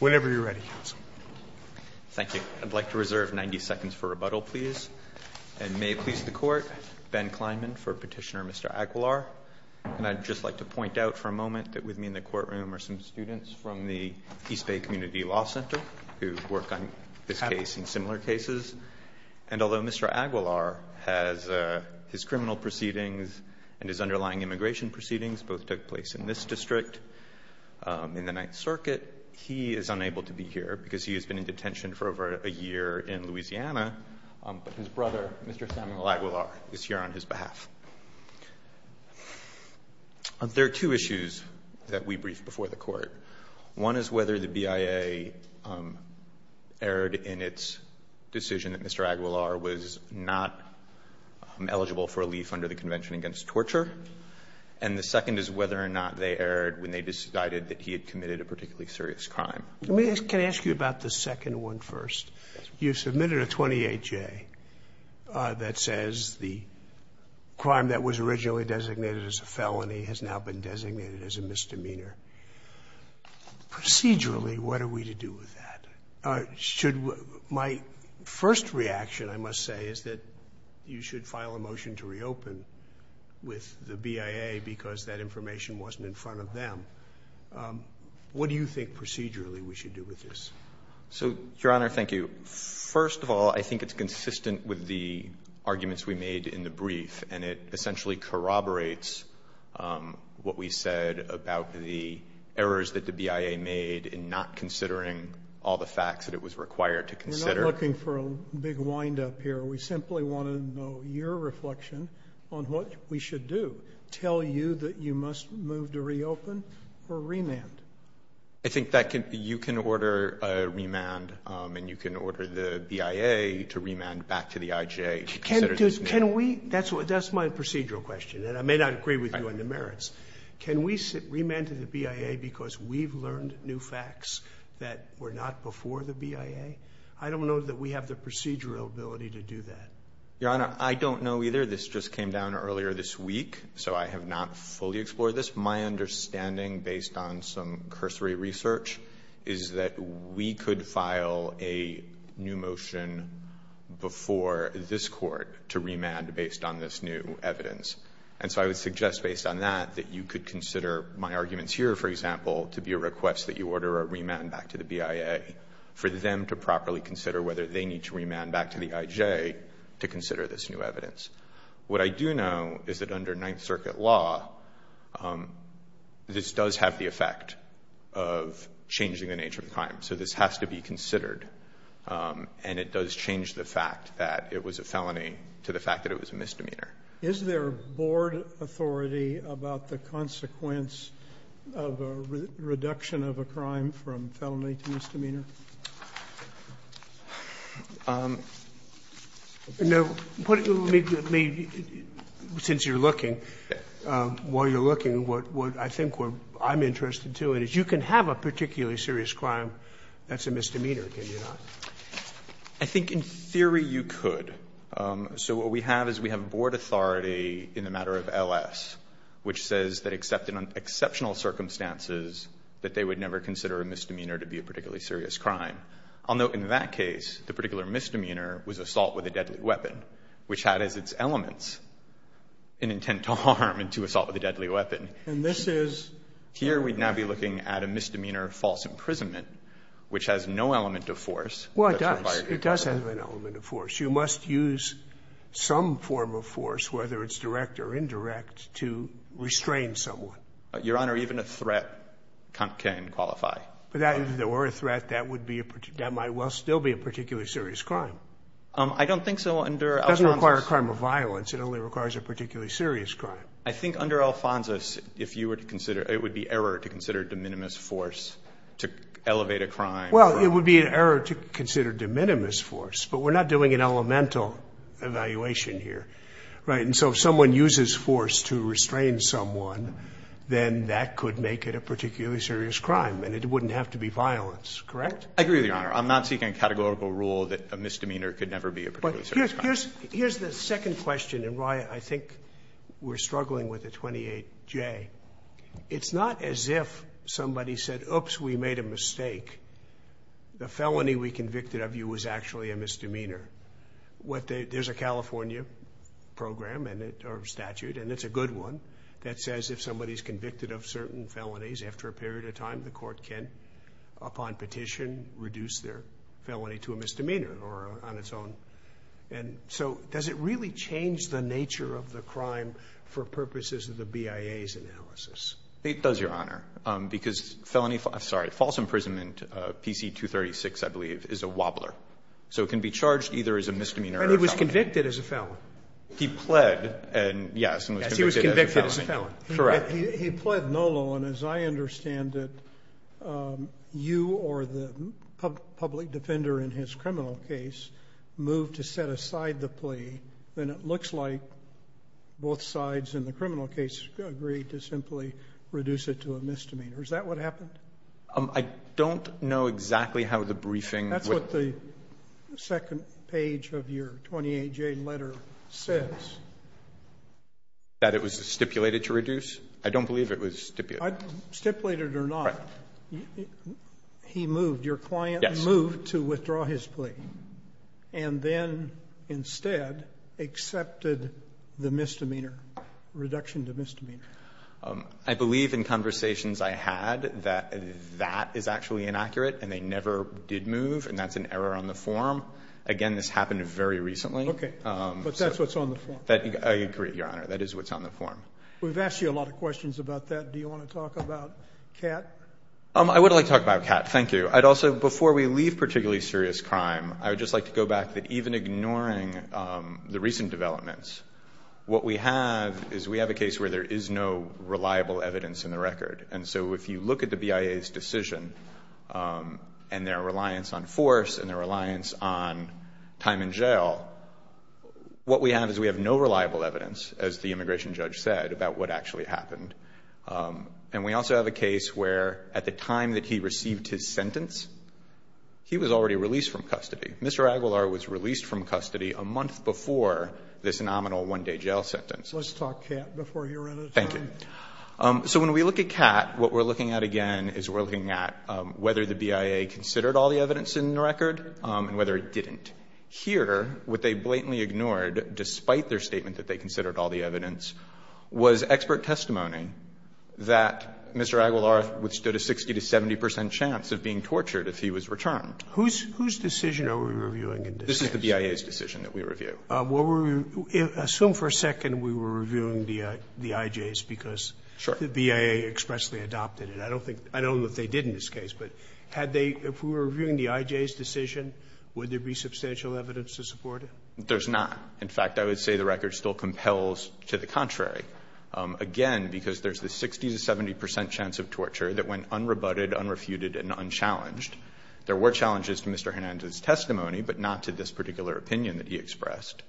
Whenever you're ready. Thank you. I'd like to reserve 90 seconds for rebuttal, please. And may it please the court, Ben Kleinman for petitioner Mr. Aguilar. And I'd just like to point out for a moment that with me in the courtroom are some students from the East Bay Community Law Center who work on this case and similar cases. And although Mr. Aguilar has his criminal proceedings and his underlying immigration proceedings both took place in this district in the Ninth Circuit, he is unable to be here because he has been in detention for over a year in Louisiana. But his brother, Mr. Samuel Aguilar, is here on his behalf. There are two issues that we briefed before the court. One is whether the BIA erred in its decision that Mr. Aguilar was not eligible for relief under the Convention Against Torture. And the second is whether or not they erred when they decided that he had committed a particularly serious crime. Can I ask you about the second one first? You submitted a 28-J that says the crime that was originally designated as a felony has now been designated as a misdemeanor. Procedurally, what are we to do with that? My first reaction, I must say, is that you should file a motion to reopen with the BIA because that information wasn't in front of them. What do you think procedurally we should do with this? So, Your Honor, thank you. First of all, I think it's consistent with the arguments we made in the brief. And it essentially corroborates what we said about the errors that the BIA made in not considering all the facts that it was required to consider. We're not looking for a big wind-up here. We simply want to know your reflection on what we should do. Tell you that you must move to reopen or remand? I think that you can order a remand. And you can order the BIA to remand back to the IJA to consider these things. That's my procedural question. And I may not agree with you in the merits. Can we remand to the BIA because we've learned new facts that were not before the BIA? I don't know that we have the procedural ability to do that. Your Honor, I don't know either. This just came down earlier this week. So I have not fully explored this. My understanding, based on some cursory research, is that we could file a new motion before this court to remand based on this new evidence. And so I would suggest, based on that, that you could consider my arguments here, for example, to be a request that you order a remand back to the BIA for them to properly consider whether they need to remand back to the IJA to consider this new evidence. What I do know is that under Ninth Circuit law, this does have the effect of changing the nature of crime. So this has to be considered. And it does change the fact that it was a felony to the fact that it was a misdemeanor. Is there board authority about the consequence of a reduction of a crime from felony to misdemeanor? Now, since you're looking, while you're looking, what I think I'm interested, too, is you can have a particularly serious crime that's a misdemeanor, can you not? I think, in theory, you could. So what we have is we have board authority in the matter of LS, which says that except in exceptional circumstances, that they would never consider a misdemeanor to be a particularly serious crime. Although in that case, the particular misdemeanor was assault with a deadly weapon, which had as its elements an intent to harm and to assault with a deadly weapon. And this is? Here, we'd now be looking at a misdemeanor of false imprisonment, which has no element of force. Well, it does. It does have an element of force. You must use some form of force, whether it's direct or indirect, to restrain someone. Your Honor, even a threat can qualify. But that, or a threat, that might well still be a particularly serious crime. I don't think so under Alphonsus. It doesn't require a crime of violence. It only requires a particularly serious crime. I think under Alphonsus, it would be error to consider de minimis force to elevate a crime. Well, it would be an error to consider de minimis force. But we're not doing an elemental evaluation here. And so if someone uses force to restrain someone, then that could make it a particularly serious crime. And it wouldn't have to be violence, correct? I agree with you, Your Honor. I'm not seeking a categorical rule that a misdemeanor could never be a particularly serious crime. Here's the second question, and why I think we're struggling with the 28J. It's not as if somebody said, oops, we made a mistake. The felony we convicted of you was actually a misdemeanor. There's a California program, or statute, and it's a good one, that says if somebody's convicted of certain felonies after a period of time, the court can, upon petition, reduce their felony to a misdemeanor or on its own. And so does it really change the nature of the crime for purposes of the BIA's analysis? It does, Your Honor, because false imprisonment, PC 236, I believe, is a wobbler. So it can be charged either as a misdemeanor or a felony. And he was convicted as a felon. He pled, yes, and was convicted as a felony. Yes, he was convicted as a felon. Correct. He pled no law, and as I understand it, you or the public defender in his criminal case moved to set aside the plea. Then it looks like both sides in the criminal case agreed to simply reduce it to a misdemeanor. Is that what happened? I don't know exactly how the briefing would. That's what the second page of your 28J letter says. That it was stipulated to reduce. I don't believe it was stipulated. Stipulated or not, he moved, your client moved to withdraw his plea, and then instead accepted the misdemeanor, reduction to misdemeanor. I believe in conversations I had that that is actually inaccurate, and they never did move, and that's an error on the form. Again, this happened very recently. Okay. But that's what's on the form. I agree, Your Honor. That is what's on the form. We've asked you a lot of questions about that. Do you want to talk about Catt? I would like to talk about Catt, thank you. I'd also, before we leave particularly serious crime, I would just like to go back that even ignoring the recent developments, what we have is we have a case where there is no reliable evidence in the record. And so if you look at the BIA's decision, and their reliance on force, and their reliance on time in jail, what we have is we have no reliable evidence, as the immigration judge said, about what actually happened. And we also have a case where at the time that he received his sentence, he was already released from custody. Mr. Aguilar was released from custody a month before this nominal one day jail sentence. Let's talk Catt before you run out of time. Thank you. So when we look at Catt, what we're looking at again is we're looking at whether the BIA considered all the evidence in the record, and whether it didn't. Here, what they blatantly ignored, despite their statement that they considered all the evidence, was expert testimony that Mr. Aguilar withstood a 60 to 70 percent chance of being tortured if he was returned. Who's decision are we reviewing in this case? This is the BIA's decision that we review. Assume for a second we were reviewing the IJ's because the BIA expressly adopted it. I don't think they did in this case, but had they, if we were reviewing the IJ's decision, would there be substantial evidence to support it? There's not. In fact, I would say the record still compels to the contrary. Again, because there's the 60 to 70 percent chance of torture that went unrebutted, unrefuted, and unchallenged. There were challenges to Mr. Hernandez's testimony, but not to this particular opinion that he expressed.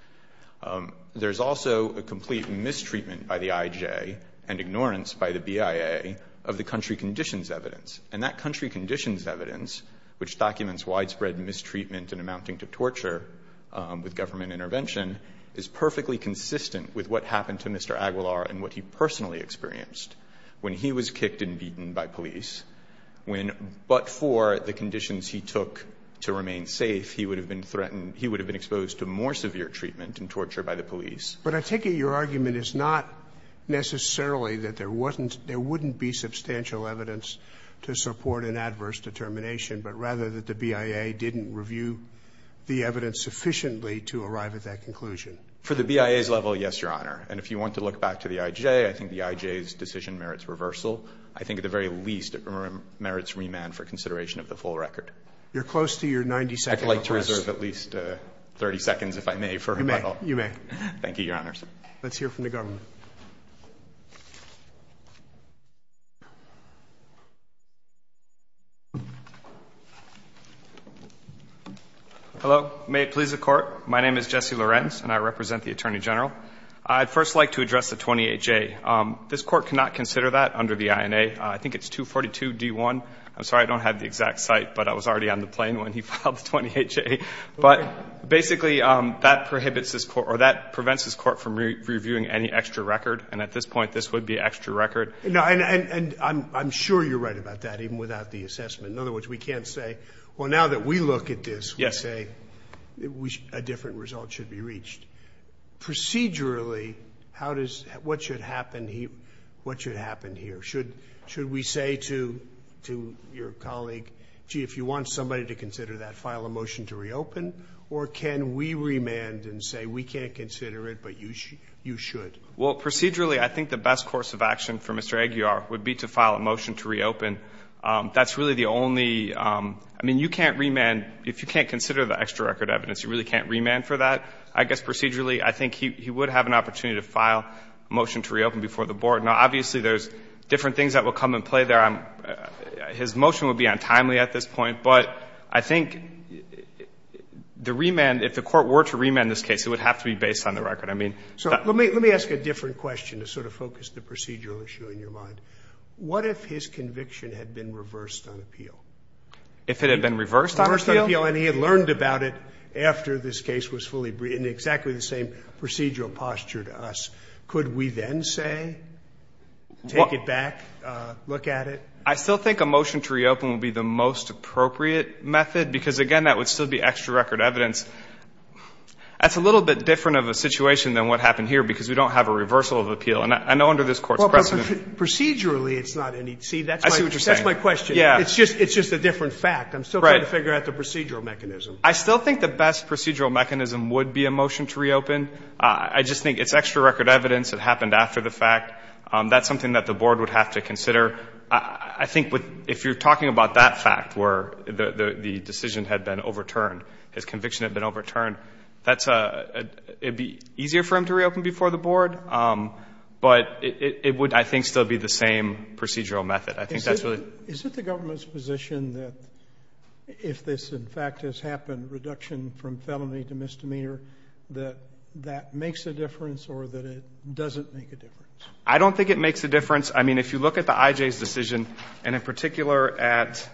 There's also a complete mistreatment by the IJ and ignorance by the BIA of the country conditions evidence. And that country conditions evidence, which documents widespread mistreatment and amounting to torture with government intervention, is perfectly consistent with what happened to Mr. Aguilar and what he personally experienced when he was kicked and beaten by police, when but for the conditions he took to remain safe, he would have been threatened, he would have been exposed to more severe treatment and torture by the police. But I take it your argument is not necessarily that there wasn't – there wouldn't be substantial evidence to support an adverse determination, but rather that the BIA didn't review the evidence sufficiently to arrive at that conclusion. For the BIA's level, yes, Your Honor. And if you want to look back to the IJ, I think the IJ's decision merits reversal. I think at the very least it merits remand for consideration of the full record. You're close to your 90-second request. I'd like to reserve at least 30 seconds, if I may, for rebuttal. You may. Thank you, Your Honors. Let's hear from the government. Hello. May it please the Court. My name is Jesse Lorenz, and I represent the Attorney General. I'd first like to address the 28J. This Court cannot consider that under the INA. I think it's 242D1. I'm sorry I don't have the exact site, but I was already on the plane when he filed the 28J. But basically, that prohibits this Court or that prevents this Court from reviewing any extra record. And at this point, this would be extra record. And I'm sure you're right about that, even without the assessment. In other words, we can't say, well, now that we look at this, we say a different result should be reached. Procedurally, what should happen here? Should we say to your colleague, gee, if you want somebody to consider that, file a motion to reopen, or can we remand and say we can't consider it, but you should? Well, procedurally, I think the best course of action for Mr. Aguiar would be to file a motion to reopen. That's really the only ‑‑ I mean, you can't remand, if you can't consider the extra record evidence, you really can't remand for that. I guess procedurally, I think he would have an opportunity to file a motion to reopen before the Board. Now, obviously, there's different things that will come into play there. His motion would be untimely at this point. But I think the remand, if the Court were to remand this case, it would have to be based on the record. I mean ‑‑ So let me ask a different question to sort of focus the procedural issue in your mind. What if his conviction had been reversed on appeal? If it had been reversed on appeal? And he had learned about it after this case was fully ‑‑ in exactly the same procedural posture to us. Could we then say, take it back, look at it? I still think a motion to reopen would be the most appropriate method, because, again, that would still be extra record evidence. That's a little bit different of a situation than what happened here, because we don't have a reversal of appeal. And I know under this Court's precedent ‑‑ Procedurally, it's not any ‑‑ see, that's my ‑‑ I see what you're saying. That's my question. It's just a different fact. I'm still trying to figure out the procedural mechanism. I still think the best procedural mechanism would be a motion to reopen. I just think it's extra record evidence. It happened after the fact. That's something that the Board would have to consider. I think if you're talking about that fact, where the decision had been overturned, his conviction had been overturned, that's a ‑‑ it would be easier for him to reopen before the Board. But it would, I think, still be the same procedural method. I think that's really ‑‑ Is it the government's position that if this, in fact, has happened, reduction from felony to misdemeanor, that that makes a difference or that it doesn't make a difference? I don't think it makes a difference. I mean, if you look at the I.J.'s decision, and in particular at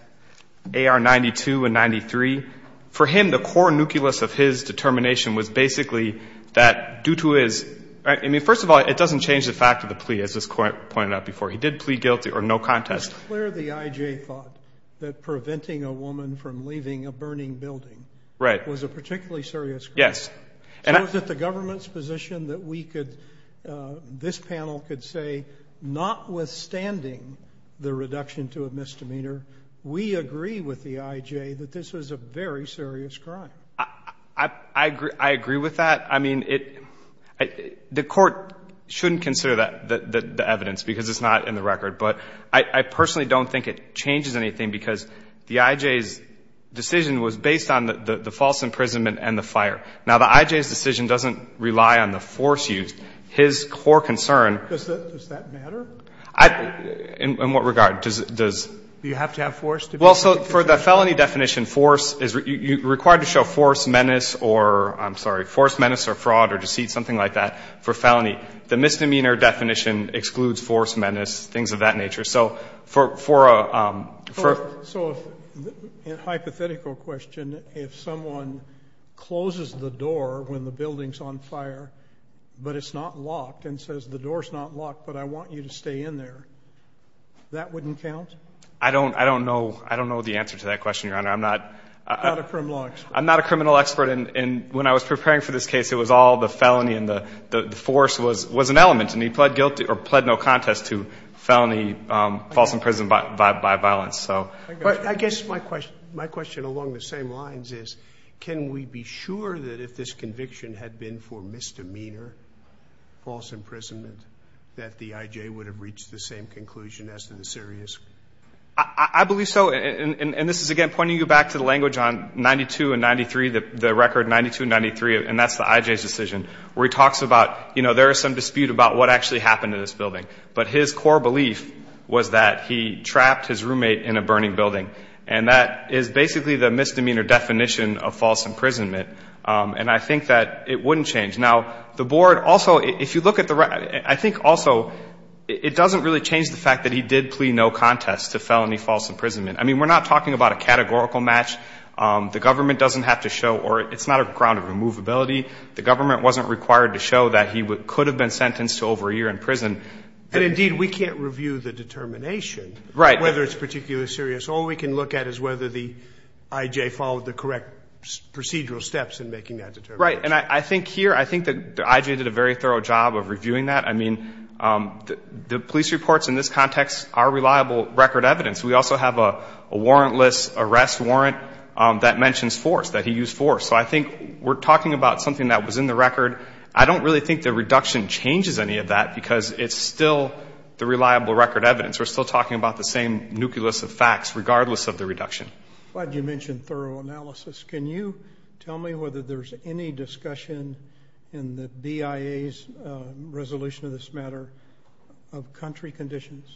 A.R. 92 and 93, for him, the core nucleus of his determination was basically that due to his ‑‑ I mean, first of all, it doesn't change the fact of the plea, as was pointed out before. He did plea guilty or no contest. But it's clear the I.J. thought that preventing a woman from leaving a burning building was a particularly serious crime. Yes. So is it the government's position that we could, this panel could say, notwithstanding the reduction to a misdemeanor, we agree with the I.J. that this was a very serious crime? I agree with that. I mean, the court shouldn't consider the evidence because it's not in the record. But I personally don't think it changes anything because the I.J.'s decision was based on the false imprisonment and the fire. Now, the I.J.'s decision doesn't rely on the force used. His core concern ‑‑ Does that matter? In what regard? Do you have to have force? Well, so for the felony definition, force is required to show force, menace or ‑‑ I'm sorry, force, menace or fraud or deceit, something like that, for felony. The misdemeanor definition excludes force, menace, things of that nature. So for a ‑‑ So a hypothetical question, if someone closes the door when the building's on fire but it's not locked and says the door's not locked but I want you to stay in there, that wouldn't count? I don't know the answer to that question, Your Honor. I'm not ‑‑ Not a criminal expert. I'm not a criminal expert. And when I was preparing for this case, it was all the felony and the force was an element. And he pled guilty or pled no contest to felony false imprisonment by violence. But I guess my question along the same lines is can we be sure that if this conviction had been for misdemeanor false imprisonment that the I.J. would have reached the same conclusion as to the serious? I believe so. And this is, again, pointing you back to the language on 92 and 93, the record 92 and 93, and that's the I.J.'s decision where he talks about, you know, there is some dispute about what actually happened to this building. But his core belief was that he trapped his roommate in a burning building. And that is basically the misdemeanor definition of false imprisonment. And I think that it wouldn't change. Now, the board also, if you look at the ‑‑ I think also it doesn't really change the fact that he did plea no contest to felony false imprisonment. I mean, we're not talking about a categorical match. The government doesn't have to show or it's not a ground of removability. The government wasn't required to show that he could have been sentenced to over a year in prison. And, indeed, we can't review the determination. Right. Whether it's particularly serious. All we can look at is whether the I.J. followed the correct procedural steps in making that determination. Right. And I think here, I think the I.J. did a very thorough job of reviewing that. I mean, the police reports in this context are reliable record evidence. We also have a warrantless arrest warrant that mentions force, that he used force. So I think we're talking about something that was in the record. I don't really think the reduction changes any of that because it's still the reliable record evidence. We're still talking about the same nucleus of facts regardless of the reduction. Why did you mention thorough analysis? Can you tell me whether there's any discussion in the BIA's resolution of this matter of country conditions?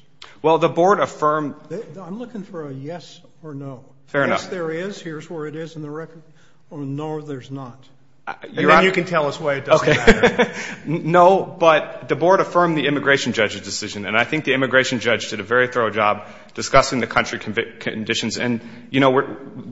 Well, the board affirmed ‑‑ I'm looking for a yes or no. Fair enough. Yes, there is. Here's where it is in the record. Or no, there's not. And then you can tell us why it doesn't matter. No, but the board affirmed the immigration judge's decision. And I think the immigration judge did a very thorough job discussing the country conditions. And, you know,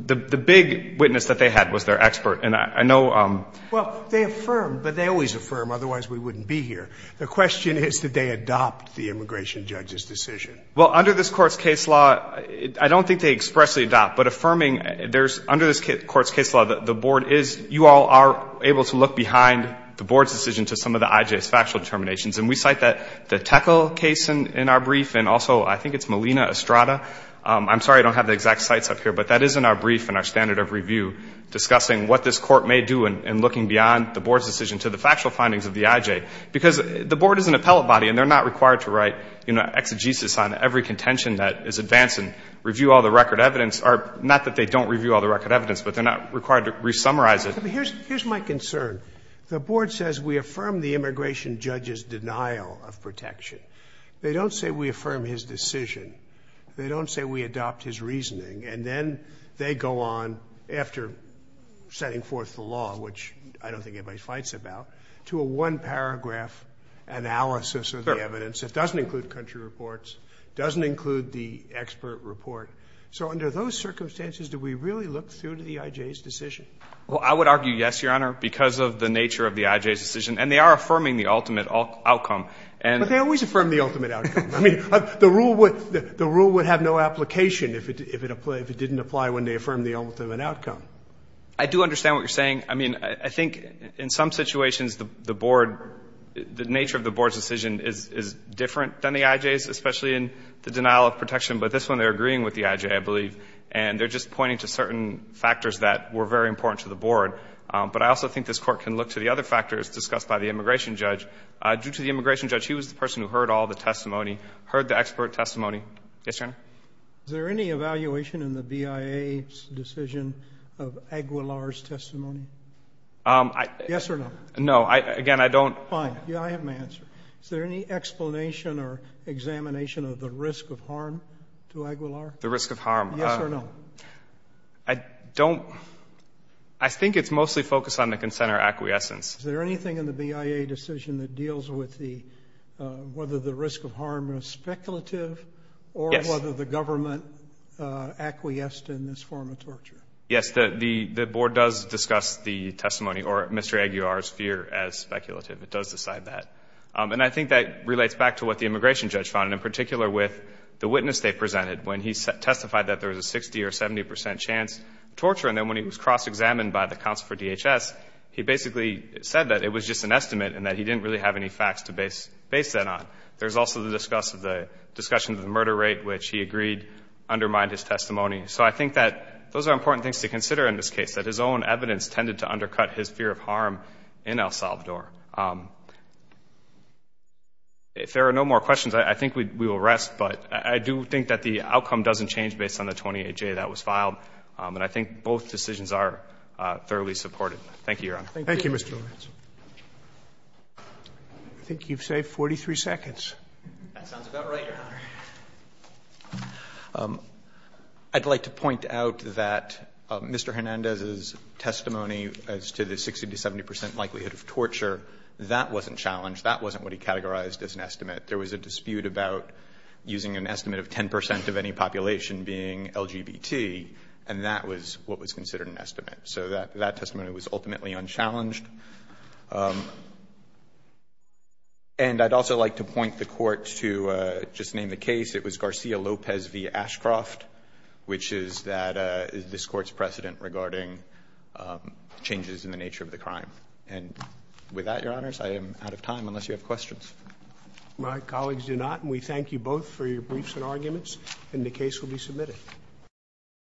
the big witness that they had was their expert. And I know ‑‑ Well, they affirmed, but they always affirm. Otherwise, we wouldn't be here. The question is, did they adopt the immigration judge's decision? Well, under this Court's case law, I don't think they expressly adopt. But affirming, there's ‑‑ under this Court's case law, the board is ‑‑ you all are able to look behind the board's decision to some of the IJ's factual determinations. And we cite the Tekel case in our brief. And also, I think it's Molina Estrada. I'm sorry I don't have the exact cites up here. But that is in our brief and our standard of review discussing what this court may do in looking beyond the board's decision to the factual findings of the IJ. Because the board is an appellate body, and they're not required to write, you know, exegesis on every contention that is advanced and review all the record evidence. Not that they don't review all the record evidence, but they're not required to re-summarize it. But here's my concern. The board says we affirm the immigration judge's denial of protection. They don't say we affirm his decision. They don't say we adopt his reasoning. And then they go on, after setting forth the law, which I don't think anybody fights about, to a one-paragraph analysis of the evidence that doesn't include country reports, doesn't include the expert report. So under those circumstances, do we really look through to the IJ's decision? Well, I would argue yes, Your Honor, because of the nature of the IJ's decision. And they are affirming the ultimate outcome. And they always affirm the ultimate outcome. I mean, the rule would have no application if it didn't apply when they affirmed the ultimate outcome. I do understand what you're saying. I mean, I think in some situations the board, the nature of the board's decision is different than the IJ's, especially in the denial of protection. But this one, they're agreeing with the IJ, I believe. And they're just pointing to certain factors that were very important to the board. But I also think this Court can look to the other factors discussed by the immigration judge. Due to the immigration judge, he was the person who heard all the testimony, heard the expert testimony. Yes, Your Honor? Is there any evaluation in the BIA's decision of Aguilar's testimony? Yes or no? No. Again, I don't. Fine. I have my answer. Is there any explanation or examination of the risk of harm to Aguilar? The risk of harm. Yes or no? I don't. I think it's mostly focused on the consent or acquiescence. Is there anything in the BIA decision that deals with whether the risk of harm is speculative or whether the government acquiesced in this form of torture? Yes. The board does discuss the testimony or Mr. Aguilar's fear as speculative. It does decide that. And I think that relates back to what the immigration judge found, in particular with the witness they presented when he testified that there was a 60% or 70% chance of torture. And then when he was cross-examined by the counsel for DHS, he basically said that it was just an estimate and that he didn't really have any facts to base that on. There's also the discussion of the murder rate, which he agreed undermined his testimony. So I think that those are important things to consider in this case, that his own evidence tended to undercut his fear of harm in El Salvador. If there are no more questions, I think we will rest. But I do think that the outcome doesn't change based on the 28J that was filed. And I think both decisions are thoroughly supported. Thank you, Your Honor. Thank you, Mr. Lawrence. I think you've saved 43 seconds. That sounds about right, Your Honor. I'd like to point out that Mr. Hernandez's testimony as to the 60% to 70% likelihood of torture, that wasn't challenged. That wasn't what he categorized as an estimate. There was a dispute about using an estimate of 10% of any population being LGBT, and that was what was considered an estimate. So that testimony was ultimately unchallenged. And I'd also like to point the Court to, just to name the case, it was Garcia-Lopez v. Ashcroft, which is that this Court's precedent regarding changes in the nature of the crime. And with that, Your Honors, I am out of time unless you have questions. My colleagues do not. And we thank you both for your briefs and arguments. And the case will be submitted.